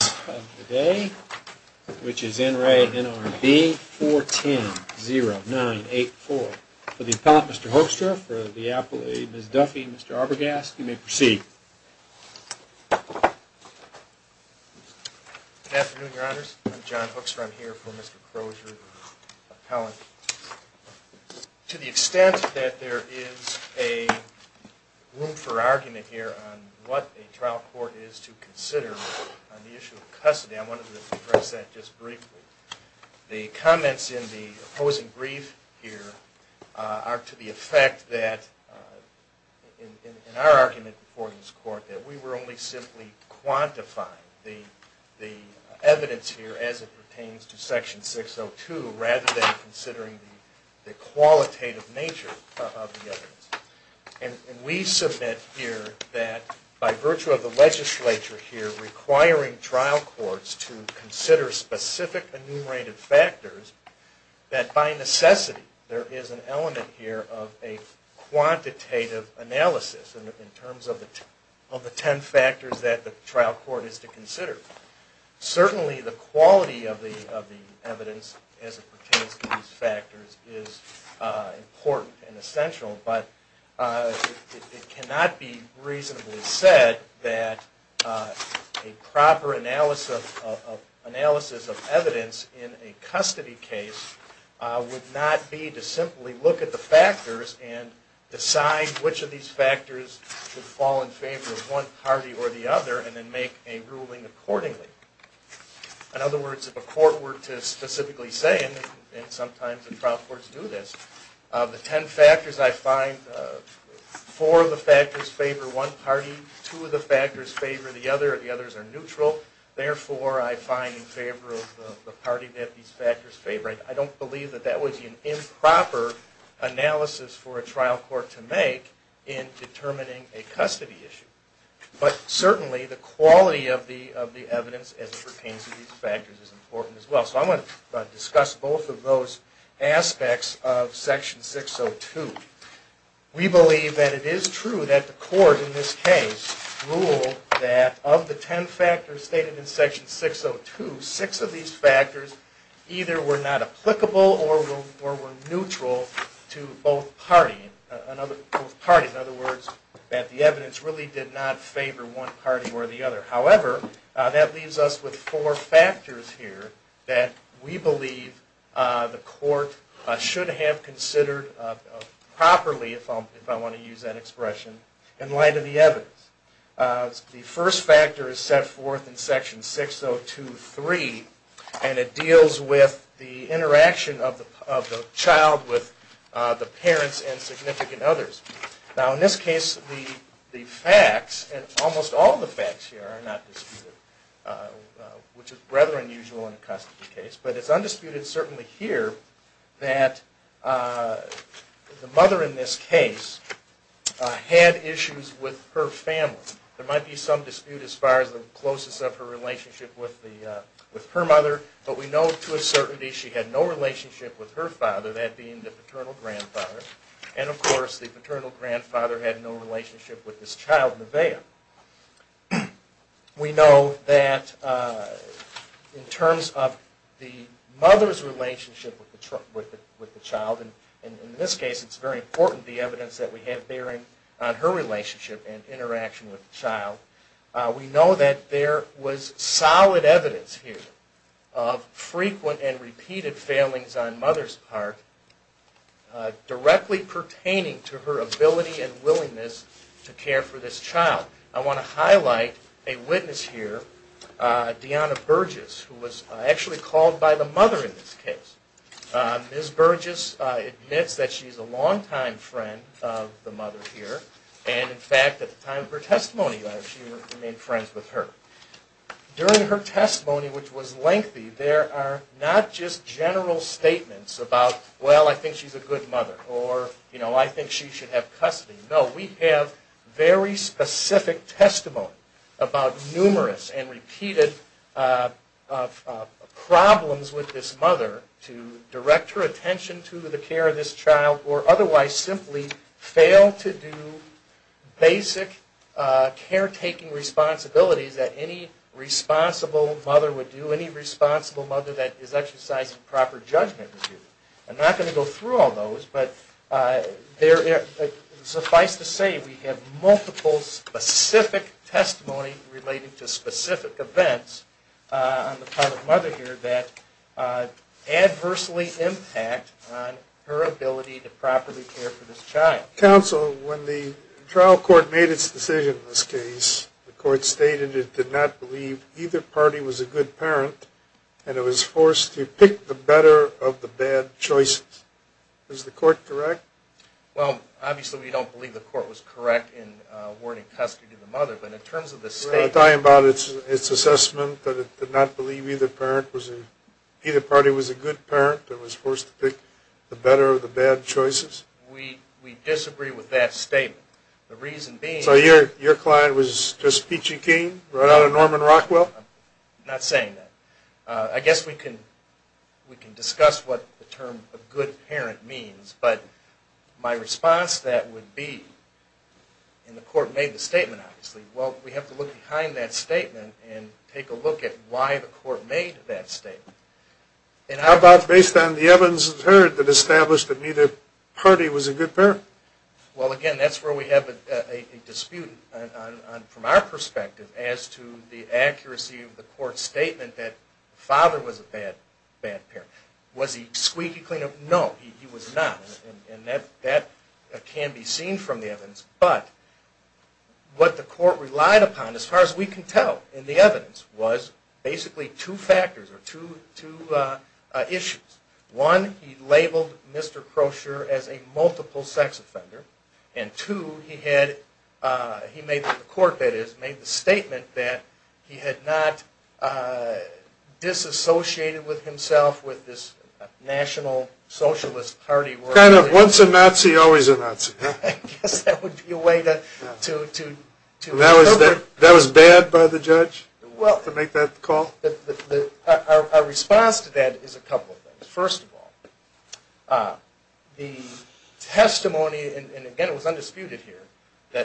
410-0984. For the appellate, Mr. Hoekstra, for the appellate, Ms. Duffy, Mr. Arbogast, you may proceed. Good afternoon, Your Honors. I'm John Hoekstra. I'm here for Mr. Crozier, appellant. To the extent that there is a room for argument here on what a trial court is to consider on the issue of custody, I wanted to address that just briefly. The comments in the opposing brief here are to the effect that, in our argument before this court, that we were only simply quantifying the evidence here as it pertains to Section 602, rather than considering the qualitative nature of the evidence. And we submit here that, by virtue of the legislature here requiring trial courts to consider specific enumerated factors, that by necessity there is an element here of a quantitative analysis in terms of the ten factors that the trial court is to consider. Certainly the quality of the evidence as it pertains to these factors is important and it cannot be reasonably said that a proper analysis of evidence in a custody case would not be to simply look at the factors and decide which of these factors should fall in favor of one party or the other and then make a ruling accordingly. In other words, if a court were to specifically say, and sometimes the trial courts do this, the ten factors I find, four of the factors favor one party, two of the factors favor the other, the others are neutral, therefore I find in favor of the party that these factors favor. I don't believe that that would be an improper analysis for a trial court to make in determining a custody issue. But certainly the quality of the evidence as it pertains to these factors is important as well. So I want to discuss both of those aspects of Section 602. We believe that it is true that the court in this case ruled that of the ten factors stated in Section 602, six of these factors either were not applicable or were neutral to both parties. In other words, that the evidence really did not favor one party or the other. However, that leaves us with four factors here that we believe the court should have considered properly, if I want to use that expression, in light of the evidence. The first factor is set forth in Section 602.3 and it deals with the interaction of the child with the parents and significant others. Now in this case the facts and almost all the facts here are not disputed, which is rather unusual in a custody case. But it's undisputed certainly here that the mother in this case had issues with her family. There might be some dispute as far as the closest of her relationship with her mother, but we know to a certainty she had no relationship with her father, that being the paternal grandfather, and of course the paternal grandfather had no relationship with this child, Nevaeh. We know that in terms of the mother's relationship with the child, and in this case it's very important the evidence that we have bearing on her relationship and interaction with the child, we know that there was solid evidence here of frequent and repeated failings on mother's part directly pertaining to her ability and willingness to care for this child. I want to highlight a witness here, Deanna Burgess, who was actually called by the mother in this case. Ms. Burgess admits that she's a longtime friend of the mother here, and in fact at the time of her testimony she remained friends with her. During her testimony, which was lengthy, there are not just general statements about, well, I think she's a good mother, or I think she should have custody. No, we have very specific testimony about numerous and repeated problems with this mother to direct her attention to the care of this child, or otherwise simply fail to do basic caretaking responsibilities that any responsible mother would do, any responsible mother that is exercising proper judgment would do. I'm not going to go through all those, but suffice to say we have multiple specific testimony relating to specific events on the part of the mother here that adversely impact on her ability to properly care for this child. Counsel, when the trial court made its decision in this case, the court stated it did not believe either party was a good parent, and it was forced to pick the better of the bad choices. Is the court correct? Well, obviously we don't believe the court was correct in awarding custody to the mother, but in terms of the statement... Are you talking about its assessment that it did not believe either party was a good parent, that it was forced to pick the better of the bad choices? We disagree with that statement. The reason being... So your client was just peachy keen, right out of Norman Rockwell? I'm not saying that. I guess we can discuss what the term a good parent means, but my response to that would be, and the court made the statement obviously, well, we have to look behind that statement and take a look at why the court made that statement. How about based on the evidence that was heard that established that neither party was a good parent? Well, again, that's where we have a dispute from our perspective as to the accuracy of the court's statement that the father was a bad parent. Was he squeaky clean? No, he was not. And that can be seen from the evidence. But what the court relied upon, as far as we can tell in the evidence, was basically two factors or two issues. One, he labeled Mr. Crocher as a multiple sex offender. And two, the court made the statement that he had not disassociated himself with this National Socialist Party. Kind of once a Nazi, always a Nazi. I guess that would be a way to... That was bad by the judge to make that call? Our response to that is a couple of things. First of all, the testimony, and again it was undisputed here,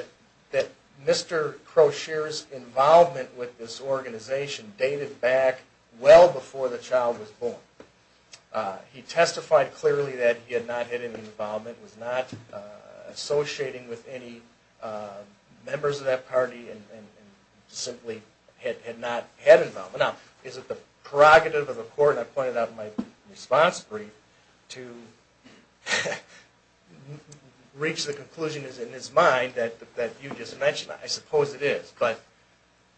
that Mr. Crocher's involvement with this organization dated back well before the child was born. He testified clearly that he had not had any involvement, was not associating with any members of that party, and simply had not had involvement. Now, is it the prerogative of the court, and I pointed out in my response brief, to reach the conclusion in his mind that you just mentioned? I suppose it is. But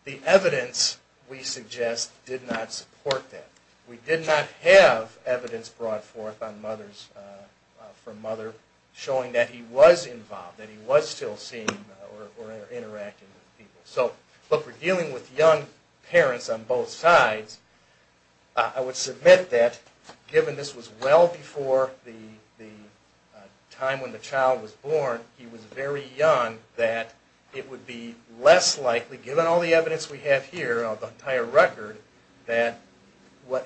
the evidence, we suggest, did not support that. We did not have evidence brought forth from Mother showing that he was involved, that he was still seeing or interacting with people. So, look, we're dealing with young parents on both sides. I would submit that, given this was well before the time when the child was born, he was very young, that it would be less likely, given all the evidence we have here, the entire record, that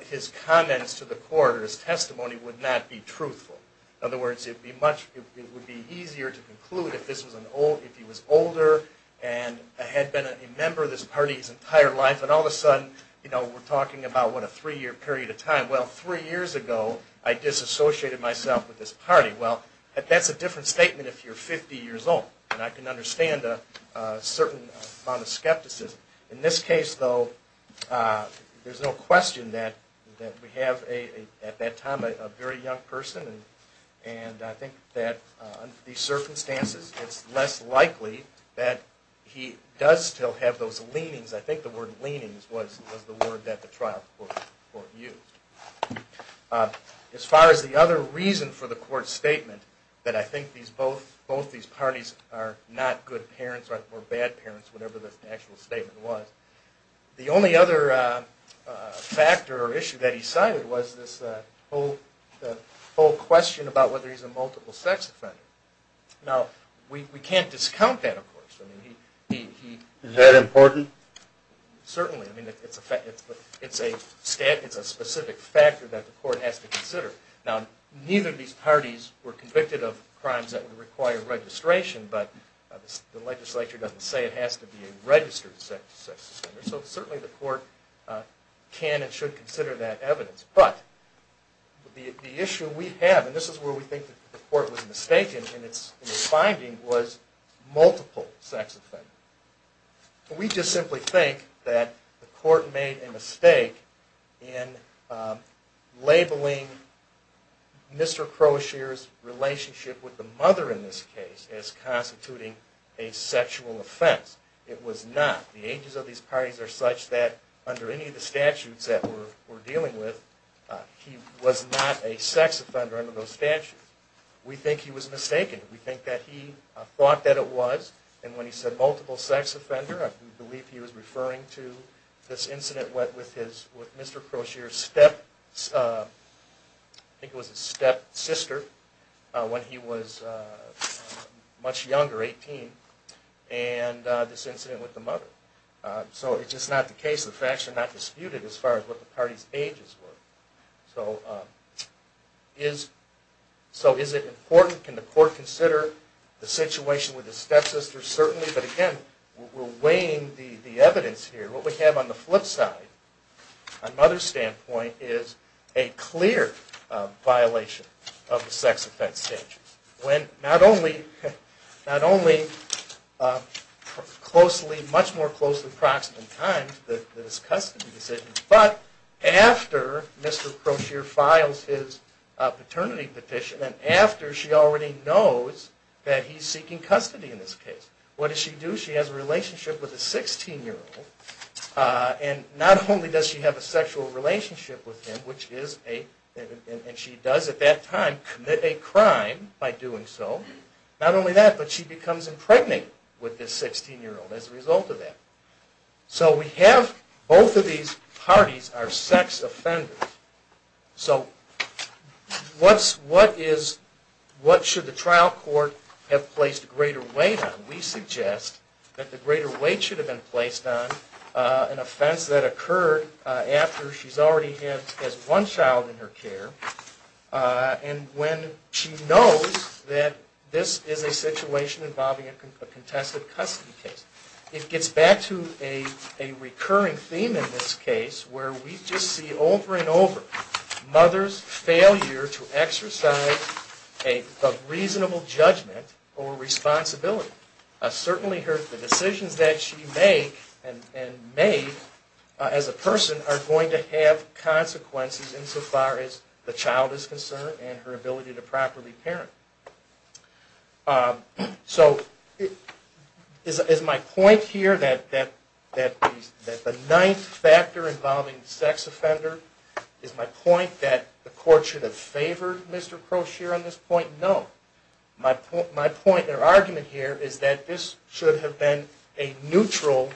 his comments to the court or his testimony would not be truthful. In other words, it would be easier to conclude if he was older and had been a member of this party his entire life, and all of a sudden, we're talking about a three-year period of time. Well, three years ago, I disassociated myself with this party. Well, that's a different statement if you're 50 years old, and I can understand a certain amount of skepticism. In this case, though, there's no question that we have, at that time, a very young person, and I think that under these circumstances, it's less likely that he does still have those leanings. I think the word leanings was the word that the trial court used. As far as the other reason for the court's statement, that I think both these parties are not good parents or bad parents, whatever the actual statement was. The only other factor or issue that he cited was this whole question about whether he's a multiple-sex offender. Now, we can't discount that, of course. Is that important? Certainly. It's a specific factor that the court has to consider. Now, neither of these parties were convicted of crimes that would require registration, but the legislature doesn't say it has to be a registered sex offender, so certainly the court can and should consider that evidence. But the issue we have, and this is where we think the court was mistaken in its finding, was multiple-sex offenders. We just simply think that the court made a mistake in labeling Mr. Crozier's relationship with the mother in this case as constituting a sexual offense. It was not. The ages of these parties are such that under any of the statutes that we're dealing with, he was not a sex offender under those statutes. We think he was mistaken. We think that he thought that it was, and when he said multiple-sex offender, I believe he was referring to this incident with Mr. Crozier's step- much younger, 18, and this incident with the mother. So it's just not the case. The facts are not disputed as far as what the parties' ages were. So is it important? Can the court consider the situation with the stepsisters? Certainly. But again, we're weighing the evidence here. What we have on the flip side, on Mother's standpoint, is a clear violation of the sex offense statute. Not only much more closely approximate in time than his custody decision, but after Mr. Crozier files his paternity petition and after she already knows that he's seeking custody in this case, what does she do? She has a relationship with a 16-year-old, and not only does she have a sexual relationship with him, and she does at that time commit a crime by doing so, not only that, but she becomes impregnated with this 16-year-old as a result of that. So we have both of these parties are sex offenders. So what should the trial court have placed greater weight on? We suggest that the greater weight should have been placed on an offense that occurred after she's already had one child in her care, and when she knows that this is a situation involving a contested custody case. It gets back to a recurring theme in this case, where we just see over and over Mother's failure to exercise a reasonable judgment or responsibility. Certainly the decisions that she made as a person are going to have consequences insofar as the child is concerned and her ability to properly parent. So is my point here that the ninth factor involving the sex offender, is my point that the court should have favored Mr. Crozier on this point? No. My point or argument here is that this should have been a neutral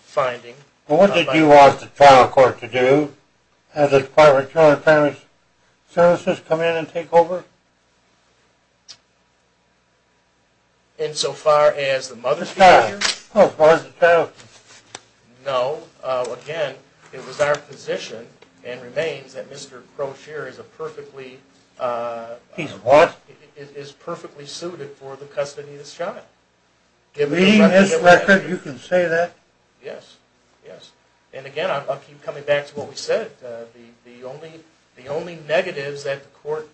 finding. Well, what did you want the trial court to do? Have the Department of Children and Parents Services come in and take over? Insofar as the mother's failure? As far as the child. No. Again, it was our position and remains that Mr. Crozier is a perfectly... is perfectly suited for the custody of this child. Give me his record, you can say that? Yes. Yes. And again, I'll keep coming back to what we said. The only negatives that the court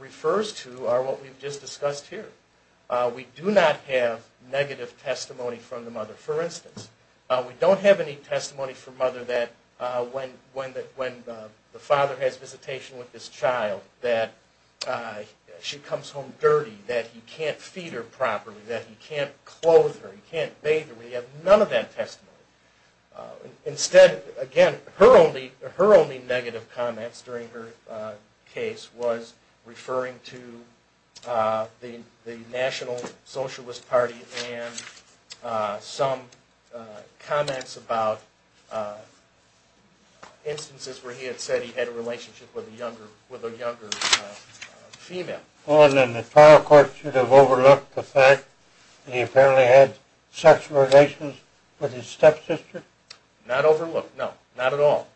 refers to are what we've just discussed here. We do not have negative testimony from the mother. For instance, we don't have any testimony from Mother that when the father has visitation with this child that she comes home dirty, that he can't feed her properly, that he can't clothe her, he can't bathe her. We have none of that testimony. Instead, again, her only negative comments during her case was referring to the National Socialist Party and some comments about instances where he had said he had a relationship with a younger female. Oh, and then the trial court should have overlooked the fact that he apparently had sexual relations with his stepsister? Not overlooked, no. Not at all.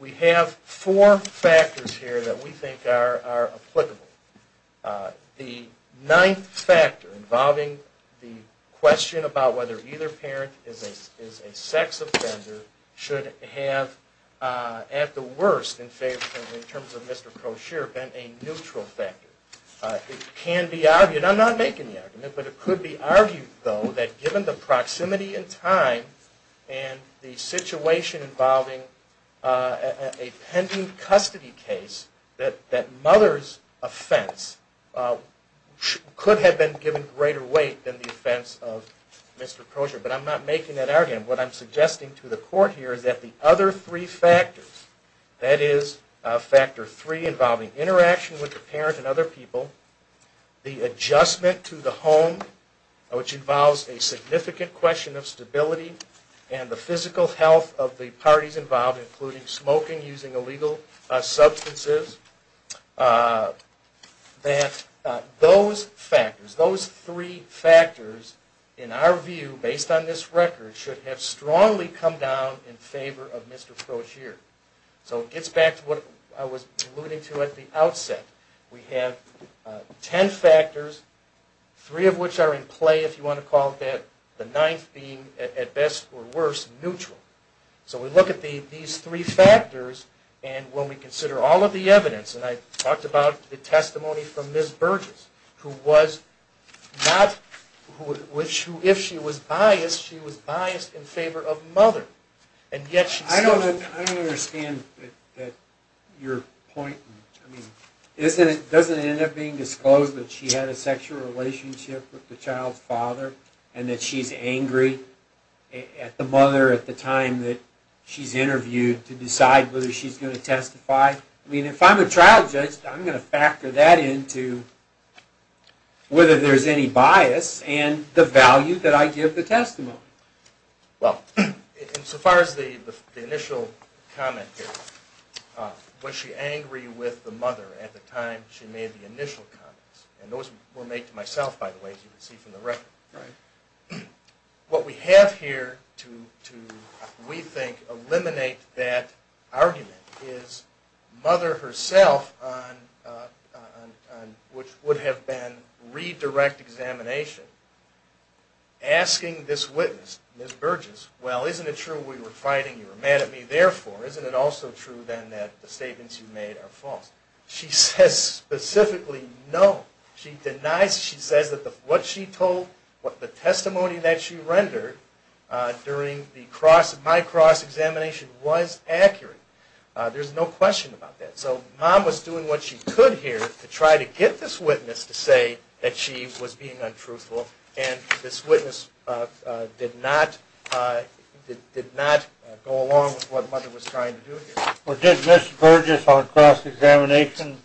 We have four factors here that we think are applicable. The ninth factor involving the question about whether either parent is a sex offender should have, at the worst, in terms of Mr. Kosheir, been a neutral factor. It can be argued, I'm not making the argument, but it could be argued, though, that given the proximity in time and the situation involving a pending custody case, that Mother's offense could have been given greater weight than the offense of Mr. Kosheir. But I'm not making that argument. What I'm suggesting to the court here is that the other three factors, that is, factor three involving interaction with the parent and other people, the adjustment to the home, which involves a significant question of stability, and the physical health of the parties involved, including smoking, using illegal substances, that those factors, those three factors, in our view, based on this record, should have strongly come down in favor of Mr. Kosheir. So it gets back to what I was alluding to at the outset. We have ten factors, three of which are in play, if you want to call it that, the ninth being, at best or worst, neutral. So we look at these three factors, and when we consider all of the evidence, and I talked about the testimony from Ms. Burgess, who was not, if she was biased, she was biased in favor of Mother. I don't understand your point. Doesn't it end up being disclosed that she had a sexual relationship with the child's father, and that she's angry at the mother at the time that she's interviewed, to decide whether she's going to testify? I mean, if I'm a trial judge, I'm going to factor that into whether there's any bias, and the value that I give the testimony. Well, insofar as the initial comment here, was she angry with the mother at the time she made the initial comments? And those were made to myself, by the way, as you can see from the record. What we have here to, we think, eliminate that argument is Mother herself, which would have been redirect examination, asking this witness, Ms. Burgess, well, isn't it true we were fighting, you were mad at me, therefore, isn't it also true, then, that the statements you made are false? She says specifically, no. She denies, she says that what she told, the testimony that she rendered during my cross-examination was accurate. There's no question about that. So Mom was doing what she could here to try to get this witness to say that she was being untruthful, and this witness did not go along with what Mother was trying to do here. Well, did Ms. Burgess, on cross-examination,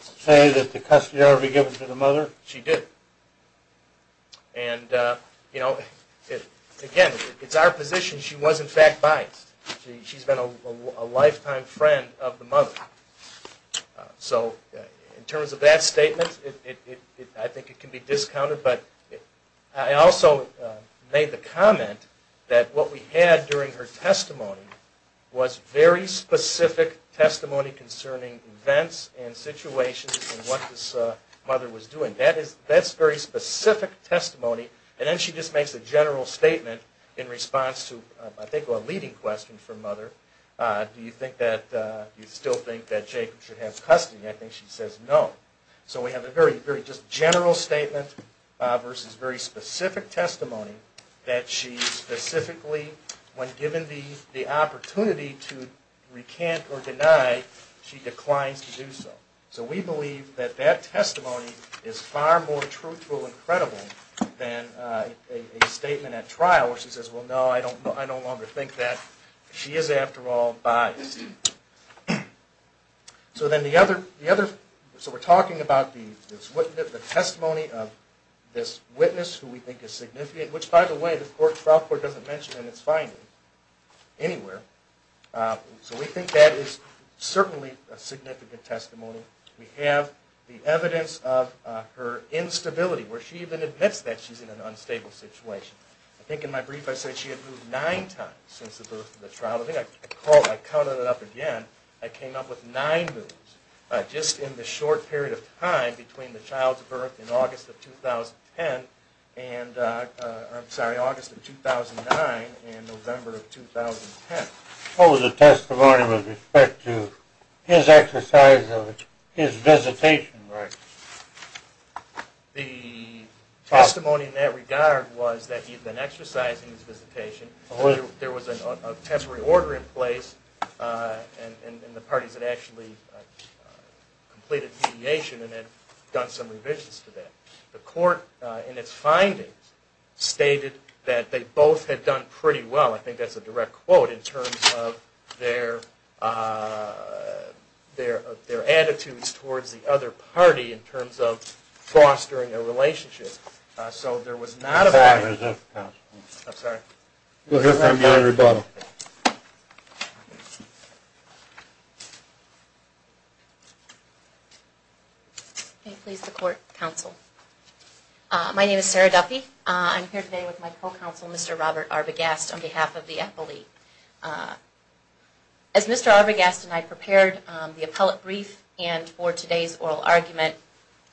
say that the custody order be given to the mother? She did. And, you know, again, it's our position she was, in fact, biased. She's been a lifetime friend of the mother. So in terms of that statement, I think it can be discounted. But I also made the comment that what we had during her testimony was very specific testimony concerning events and situations and what this mother was doing. That's very specific testimony. And then she just makes a general statement in response to, I think, a leading question from Mother. Do you still think that Jacob should have custody? I think she says no. So we have a very, very just general statement versus very specific testimony that she specifically, when given the opportunity to recant or deny, she declines to do so. So we believe that that testimony is far more truthful and credible than a statement at trial where she says, well, no, I no longer think that. She is, after all, biased. So we're talking about the testimony of this witness who we think is significant, which, by the way, the trial court doesn't mention in its finding anywhere. So we think that is certainly a significant testimony. We have the evidence of her instability, where she even admits that she's in an unstable situation. I think in my brief I said she had moved nine times since the birth of the child. I think I counted it up again. I came up with nine moves just in the short period of time between the child's birth in August of 2010 and, I'm sorry, August of 2009 and November of 2010. What was the testimony with respect to his exercise of his visitation rights? The testimony in that regard was that he'd been exercising his visitation. There was a temporary order in place, and the parties had actually completed mediation and had done some revisions to that. The court in its findings stated that they both had done pretty well. I think that's a direct quote in terms of their attitudes towards the other party in terms of fostering a relationship. So there was not a violation. I'm sorry. We'll hear from you in rebuttal. May it please the court, counsel. My name is Sarah Duffy. I'm here today with my co-counsel, Mr. Robert Arbogast, on behalf of the appellee. As Mr. Arbogast and I prepared the appellate brief and for today's oral argument,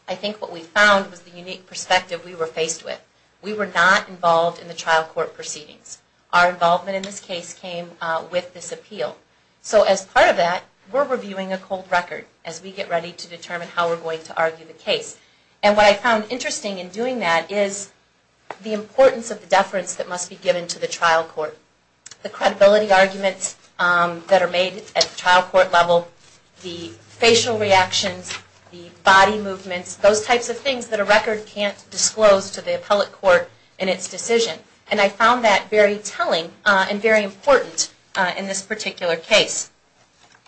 I think what we found was the unique perspective we were faced with. We were not involved in the trial court proceedings. Our involvement in this case came with this appeal. So as part of that, we're reviewing a cold record as we get ready to determine how we're going to argue the case. And what I found interesting in doing that is the importance of the deference that must be given to the trial court. The credibility arguments that are made at the trial court level, the facial reactions, the body movements, those types of things that a record can't disclose to the appellate court in its decision. And I found that very telling and very important in this particular case.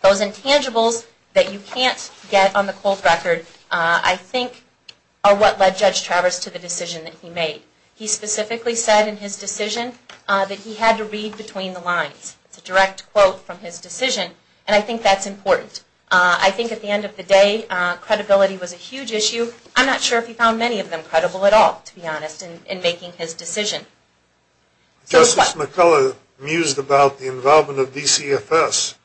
Those intangibles that you can't get on the cold record, I think, are what led Judge Travers to the decision that he made. He specifically said in his decision that he had to read between the lines. It's a direct quote from his decision. And I think that's important. I think at the end of the day, credibility was a huge issue. I'm not sure if he found many of them credible at all, to be honest, in making his decision. Justice McCullough mused about the involvement of DCFS.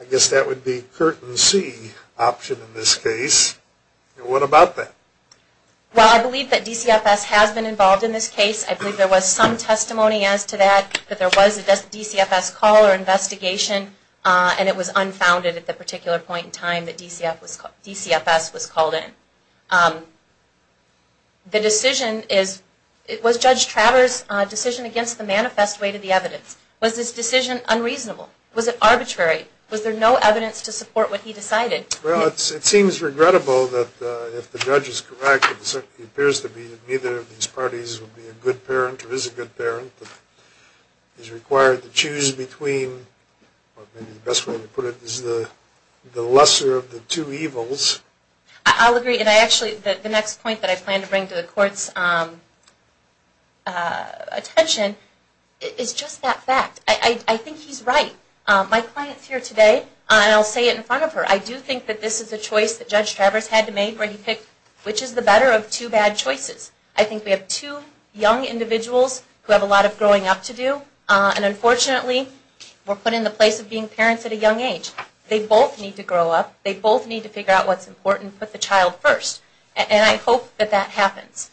I guess that would be curtain C option in this case. What about that? Well, I believe that DCFS has been involved in this case. I believe there was some testimony as to that, that there was a DCFS call or investigation, and it was unfounded at the particular point in time that DCFS was called in. The decision is, was Judge Travers' decision against the manifest way to the evidence? Was his decision unreasonable? Was it arbitrary? Was there no evidence to support what he decided? Well, it seems regrettable that if the judge is correct, it appears to be that neither of these parties would be a good parent or is a good parent. He's required to choose between, or maybe the best way to put it is the lesser of the two evils. I'll agree. And actually, the next point that I plan to bring to the Court's attention is just that fact. I think he's right. My client's here today, and I'll say it in front of her. I do think that this is a choice that Judge Travers had to make, where he picked which is the better of two bad choices. I think we have two young individuals who have a lot of growing up to do, and unfortunately, we're put in the place of being parents at a young age. They both need to grow up. They both need to figure out what's important and put the child first. And I hope that that happens.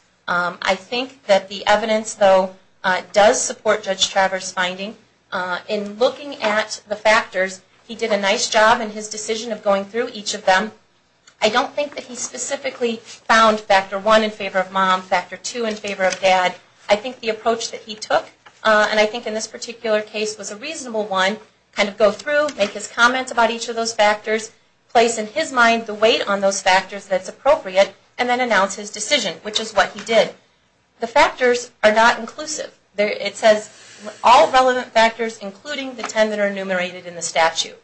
In looking at the factors, he did a nice job in his decision of going through each of them. I don't think that he specifically found factor one in favor of mom, factor two in favor of dad. I think the approach that he took, and I think in this particular case was a reasonable one, kind of go through, make his comments about each of those factors, place in his mind the weight on those factors that's appropriate, and then announce his decision, which is what he did. The factors are not inclusive. It says all relevant factors, including the ten that are enumerated in the statute.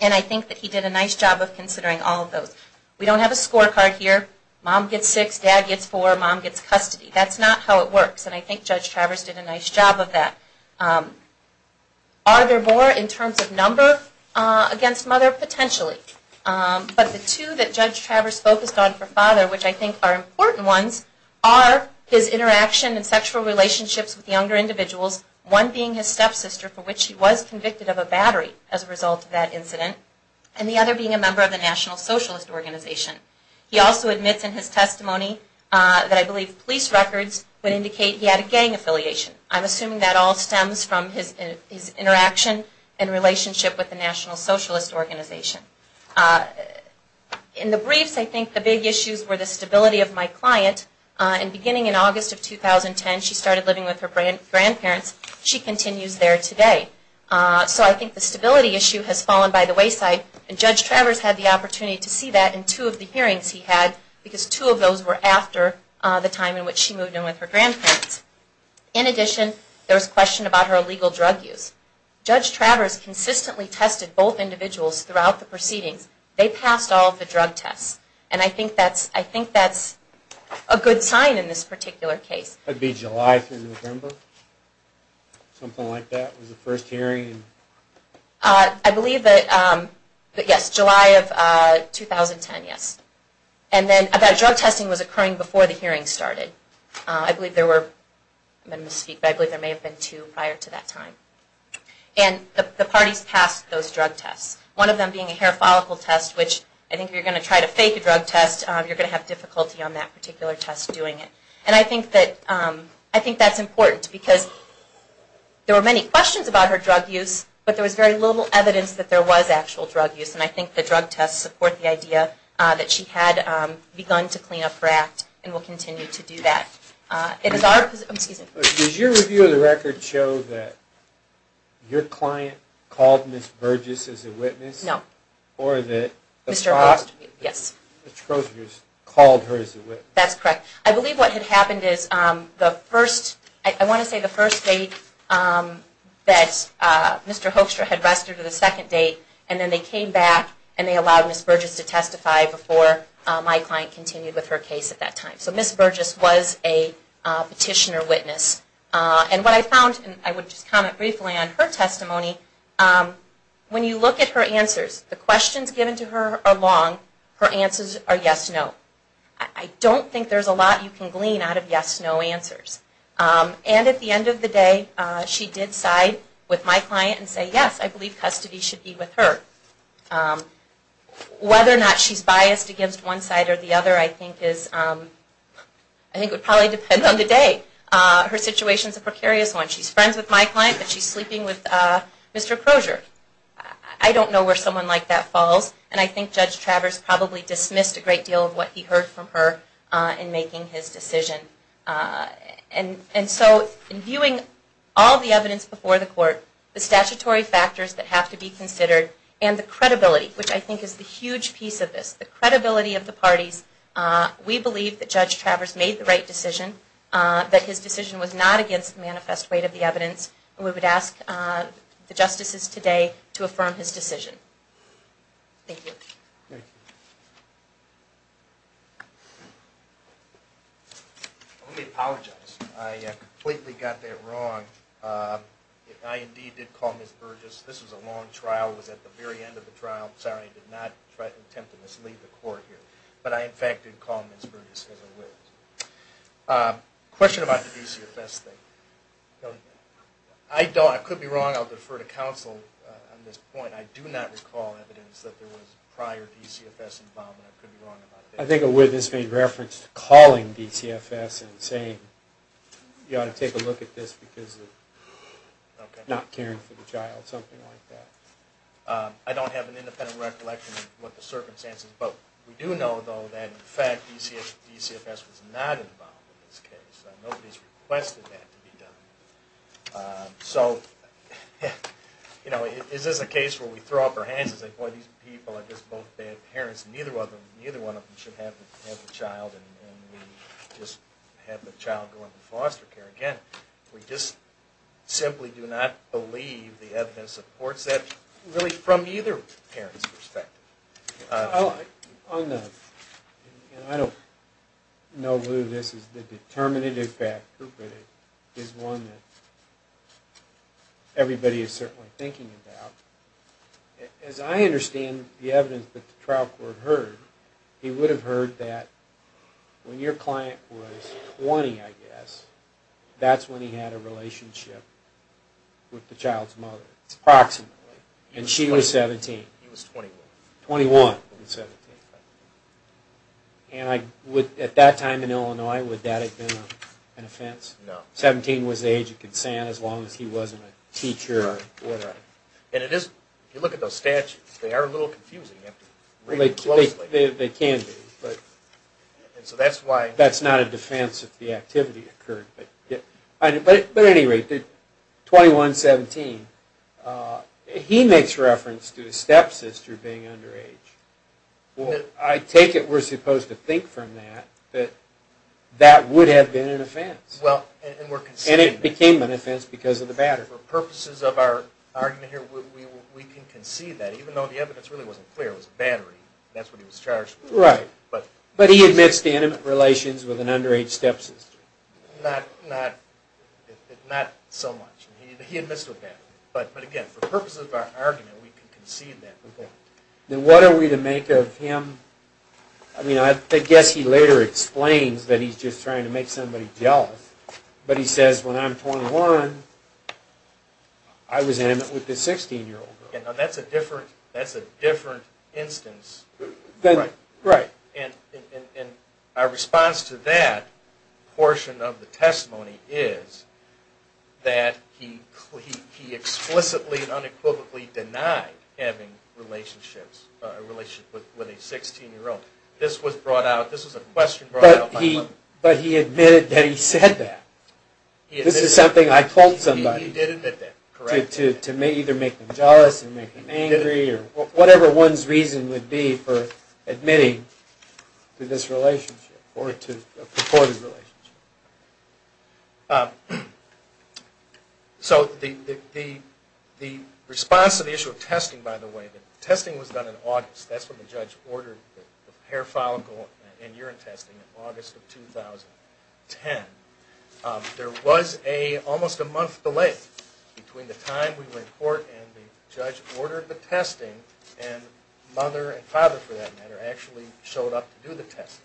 And I think that he did a nice job of considering all of those. We don't have a scorecard here. Mom gets six, dad gets four, mom gets custody. That's not how it works, and I think Judge Travers did a nice job of that. Are there more in terms of number against mother? Potentially. But the two that Judge Travers focused on for father, which I think are important ones, are his interaction and sexual relationships with younger individuals, one being his stepsister for which he was convicted of a battery as a result of that incident, and the other being a member of the National Socialist Organization. He also admits in his testimony that I believe police records would indicate he had a gang affiliation. I'm assuming that all stems from his interaction and relationship with the National Socialist Organization. In the briefs, I think the big issues were the stability of my client. Beginning in August of 2010, she started living with her grandparents. She continues there today. So I think the stability issue has fallen by the wayside, and Judge Travers had the opportunity to see that in two of the hearings he had, because two of those were after the time in which she moved in with her grandparents. In addition, there was question about her illegal drug use. Judge Travers consistently tested both individuals throughout the proceedings. They passed all of the drug tests. And I think that's a good sign in this particular case. That would be July through November? Something like that? Was it the first hearing? I believe that, yes, July of 2010, yes. And then that drug testing was occurring before the hearing started. I believe there were, I'm going to misspeak, but I believe there may have been two prior to that time. And the parties passed those drug tests. One of them being a hair follicle test, which I think if you're going to try to fake a drug test, you're going to have difficulty on that particular test doing it. And I think that's important, because there were many questions about her drug use, but there was very little evidence that there was actual drug use. And I think the drug tests support the idea that she had begun to clean up her act and will continue to do that. Does your review of the record show that your client called Ms. Burgess as a witness? No. Or that Mr. Hoekstra called her as a witness? That's correct. I believe what had happened is the first, I want to say the first date that Mr. Hoekstra had rested or the second date, and then they came back and they allowed Ms. Burgess to testify before my client continued with her case at that time. So Ms. Burgess was a petitioner witness. And what I found, and I would just comment briefly on her testimony, when you look at her answers, the questions given to her are long. Her answers are yes, no. I don't think there's a lot you can glean out of yes, no answers. And at the end of the day, she did side with my client and say, yes, I believe custody should be with her. Whether or not she's biased against one side or the other I think would probably depend on the day. Her situation is a precarious one. She's friends with my client, but she's sleeping with Mr. Crozier. I don't know where someone like that falls, and I think Judge Travers probably dismissed a great deal of what he heard from her in making his decision. And so in viewing all the evidence before the court, the statutory factors that have to be considered, and the credibility, which I think is the huge piece of this, the credibility of the parties, we believe that Judge Travers made the right decision, that his decision was not against the manifest weight of the evidence, and we would ask the justices today to affirm his decision. Thank you. Let me apologize. I completely got that wrong. I indeed did call Ms. Burgess. This was a long trial. It was at the very end of the trial. I'm sorry I did not attempt to mislead the court here. But I, in fact, did call Ms. Burgess as a witness. Question about the DCFS thing. I could be wrong. I'll defer to counsel on this point. I do not recall evidence that there was prior DCFS involvement. I could be wrong about that. I think a witness made reference to calling DCFS and saying, you ought to take a look at this because of not caring for the child, something like that. I don't have an independent recollection of what the circumstances, but we do know, though, that, in fact, DCFS was not involved in this case. Nobody has requested that to be done. So, you know, is this a case where we throw up our hands and say, boy, these people are just both bad parents, and neither one of them should have the child, and we just have the child go into foster care. Again, we just simply do not believe the evidence supports that, really from either parent's perspective. I don't know, Lou, if this is the determinative fact, but it is one that everybody is certainly thinking about. As I understand the evidence that the trial court heard, he would have heard that when your client was 20, I guess, that's when he had a relationship with the child's mother, approximately, and she was 17. He was 21. 21. And at that time in Illinois, would that have been an offense? No. 17 was the age of consent as long as he wasn't a teacher or whatever. And if you look at those statutes, they are a little confusing. They can be. That's not a defense if the activity occurred. But at any rate, 21, 17, he makes reference to his stepsister being underage. I take it we're supposed to think from that that that would have been an offense. And it became an offense because of the batter. For purposes of our argument here, we can concede that, even though the evidence really wasn't clear. It was battery. That's what he was charged with. Right. But he admits to intimate relations with an underage stepsister. Not so much. He admits to a battery. But, again, for purposes of our argument, we can concede that. Then what are we to make of him? I guess he later explains that he's just trying to make somebody jealous, but he says, when I'm 21, I was intimate with this 16-year-old girl. That's a different instance. Right. And our response to that portion of the testimony is that he explicitly and unequivocally denied having relationships with a 16-year-old. This was a question brought out by him. But he admitted that he said that. This is something I told somebody. He did admit that. Correct. To either make them jealous and make them angry or whatever one's reason would be for admitting to this relationship or to a purported relationship. So the response to the issue of testing, by the way, the testing was done in August. That's when the judge ordered the hair follicle and urine testing in August of 2010. There was almost a month delay between the time we went to court and the judge ordered the testing, and mother and father, for that matter, actually showed up to do the testing.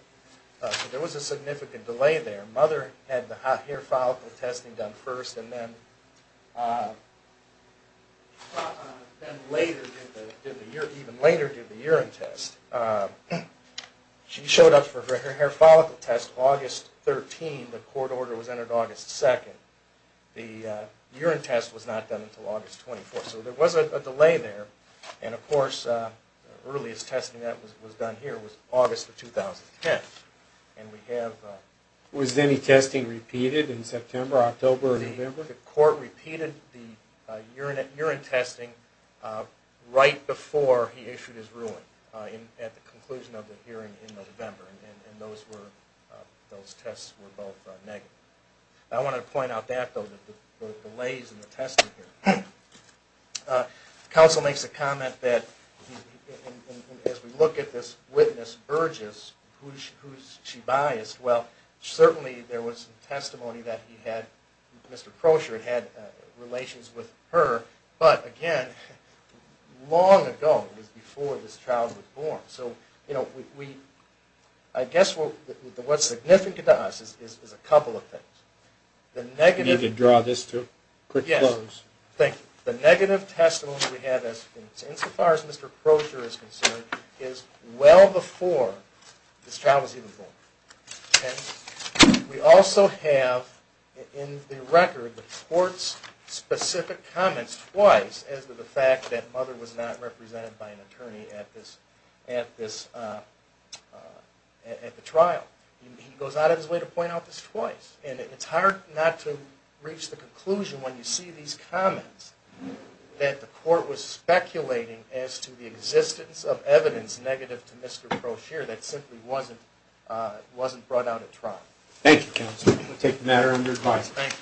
So there was a significant delay there. Mother had the hair follicle testing done first, and then later did the urine test. She showed up for her hair follicle test August 13, the court order was entered August 2. The urine test was not done until August 24. So there was a delay there. And, of course, the earliest testing that was done here was August of 2010. Was any testing repeated in September, October, or November? The court repeated the urine testing right before he issued his ruling at the conclusion of the hearing in November. And those tests were both negative. I want to point out that, though, the delays in the testing here. Counsel makes a comment that, as we look at this witness, Burgess, who is she biased? Well, certainly there was testimony that he had, Mr. Krosher, had relations with her, but, again, long ago, it was before this child was born. So I guess what's significant to us is a couple of things. Can you draw this to a quick close? Yes. Thank you. The negative testimony we have, insofar as Mr. Krosher is concerned, is well before this child was even born. And we also have, in the record, the court's specific comments twice as to the fact that mother was not represented by an attorney at the trial. He goes out of his way to point out this twice. And it's hard not to reach the conclusion when you see these comments that the court was speculating as to the existence of evidence negative to Mr. Krosher that simply wasn't brought out at trial. Thank you, counsel. We'll take the matter under advice. Thank you.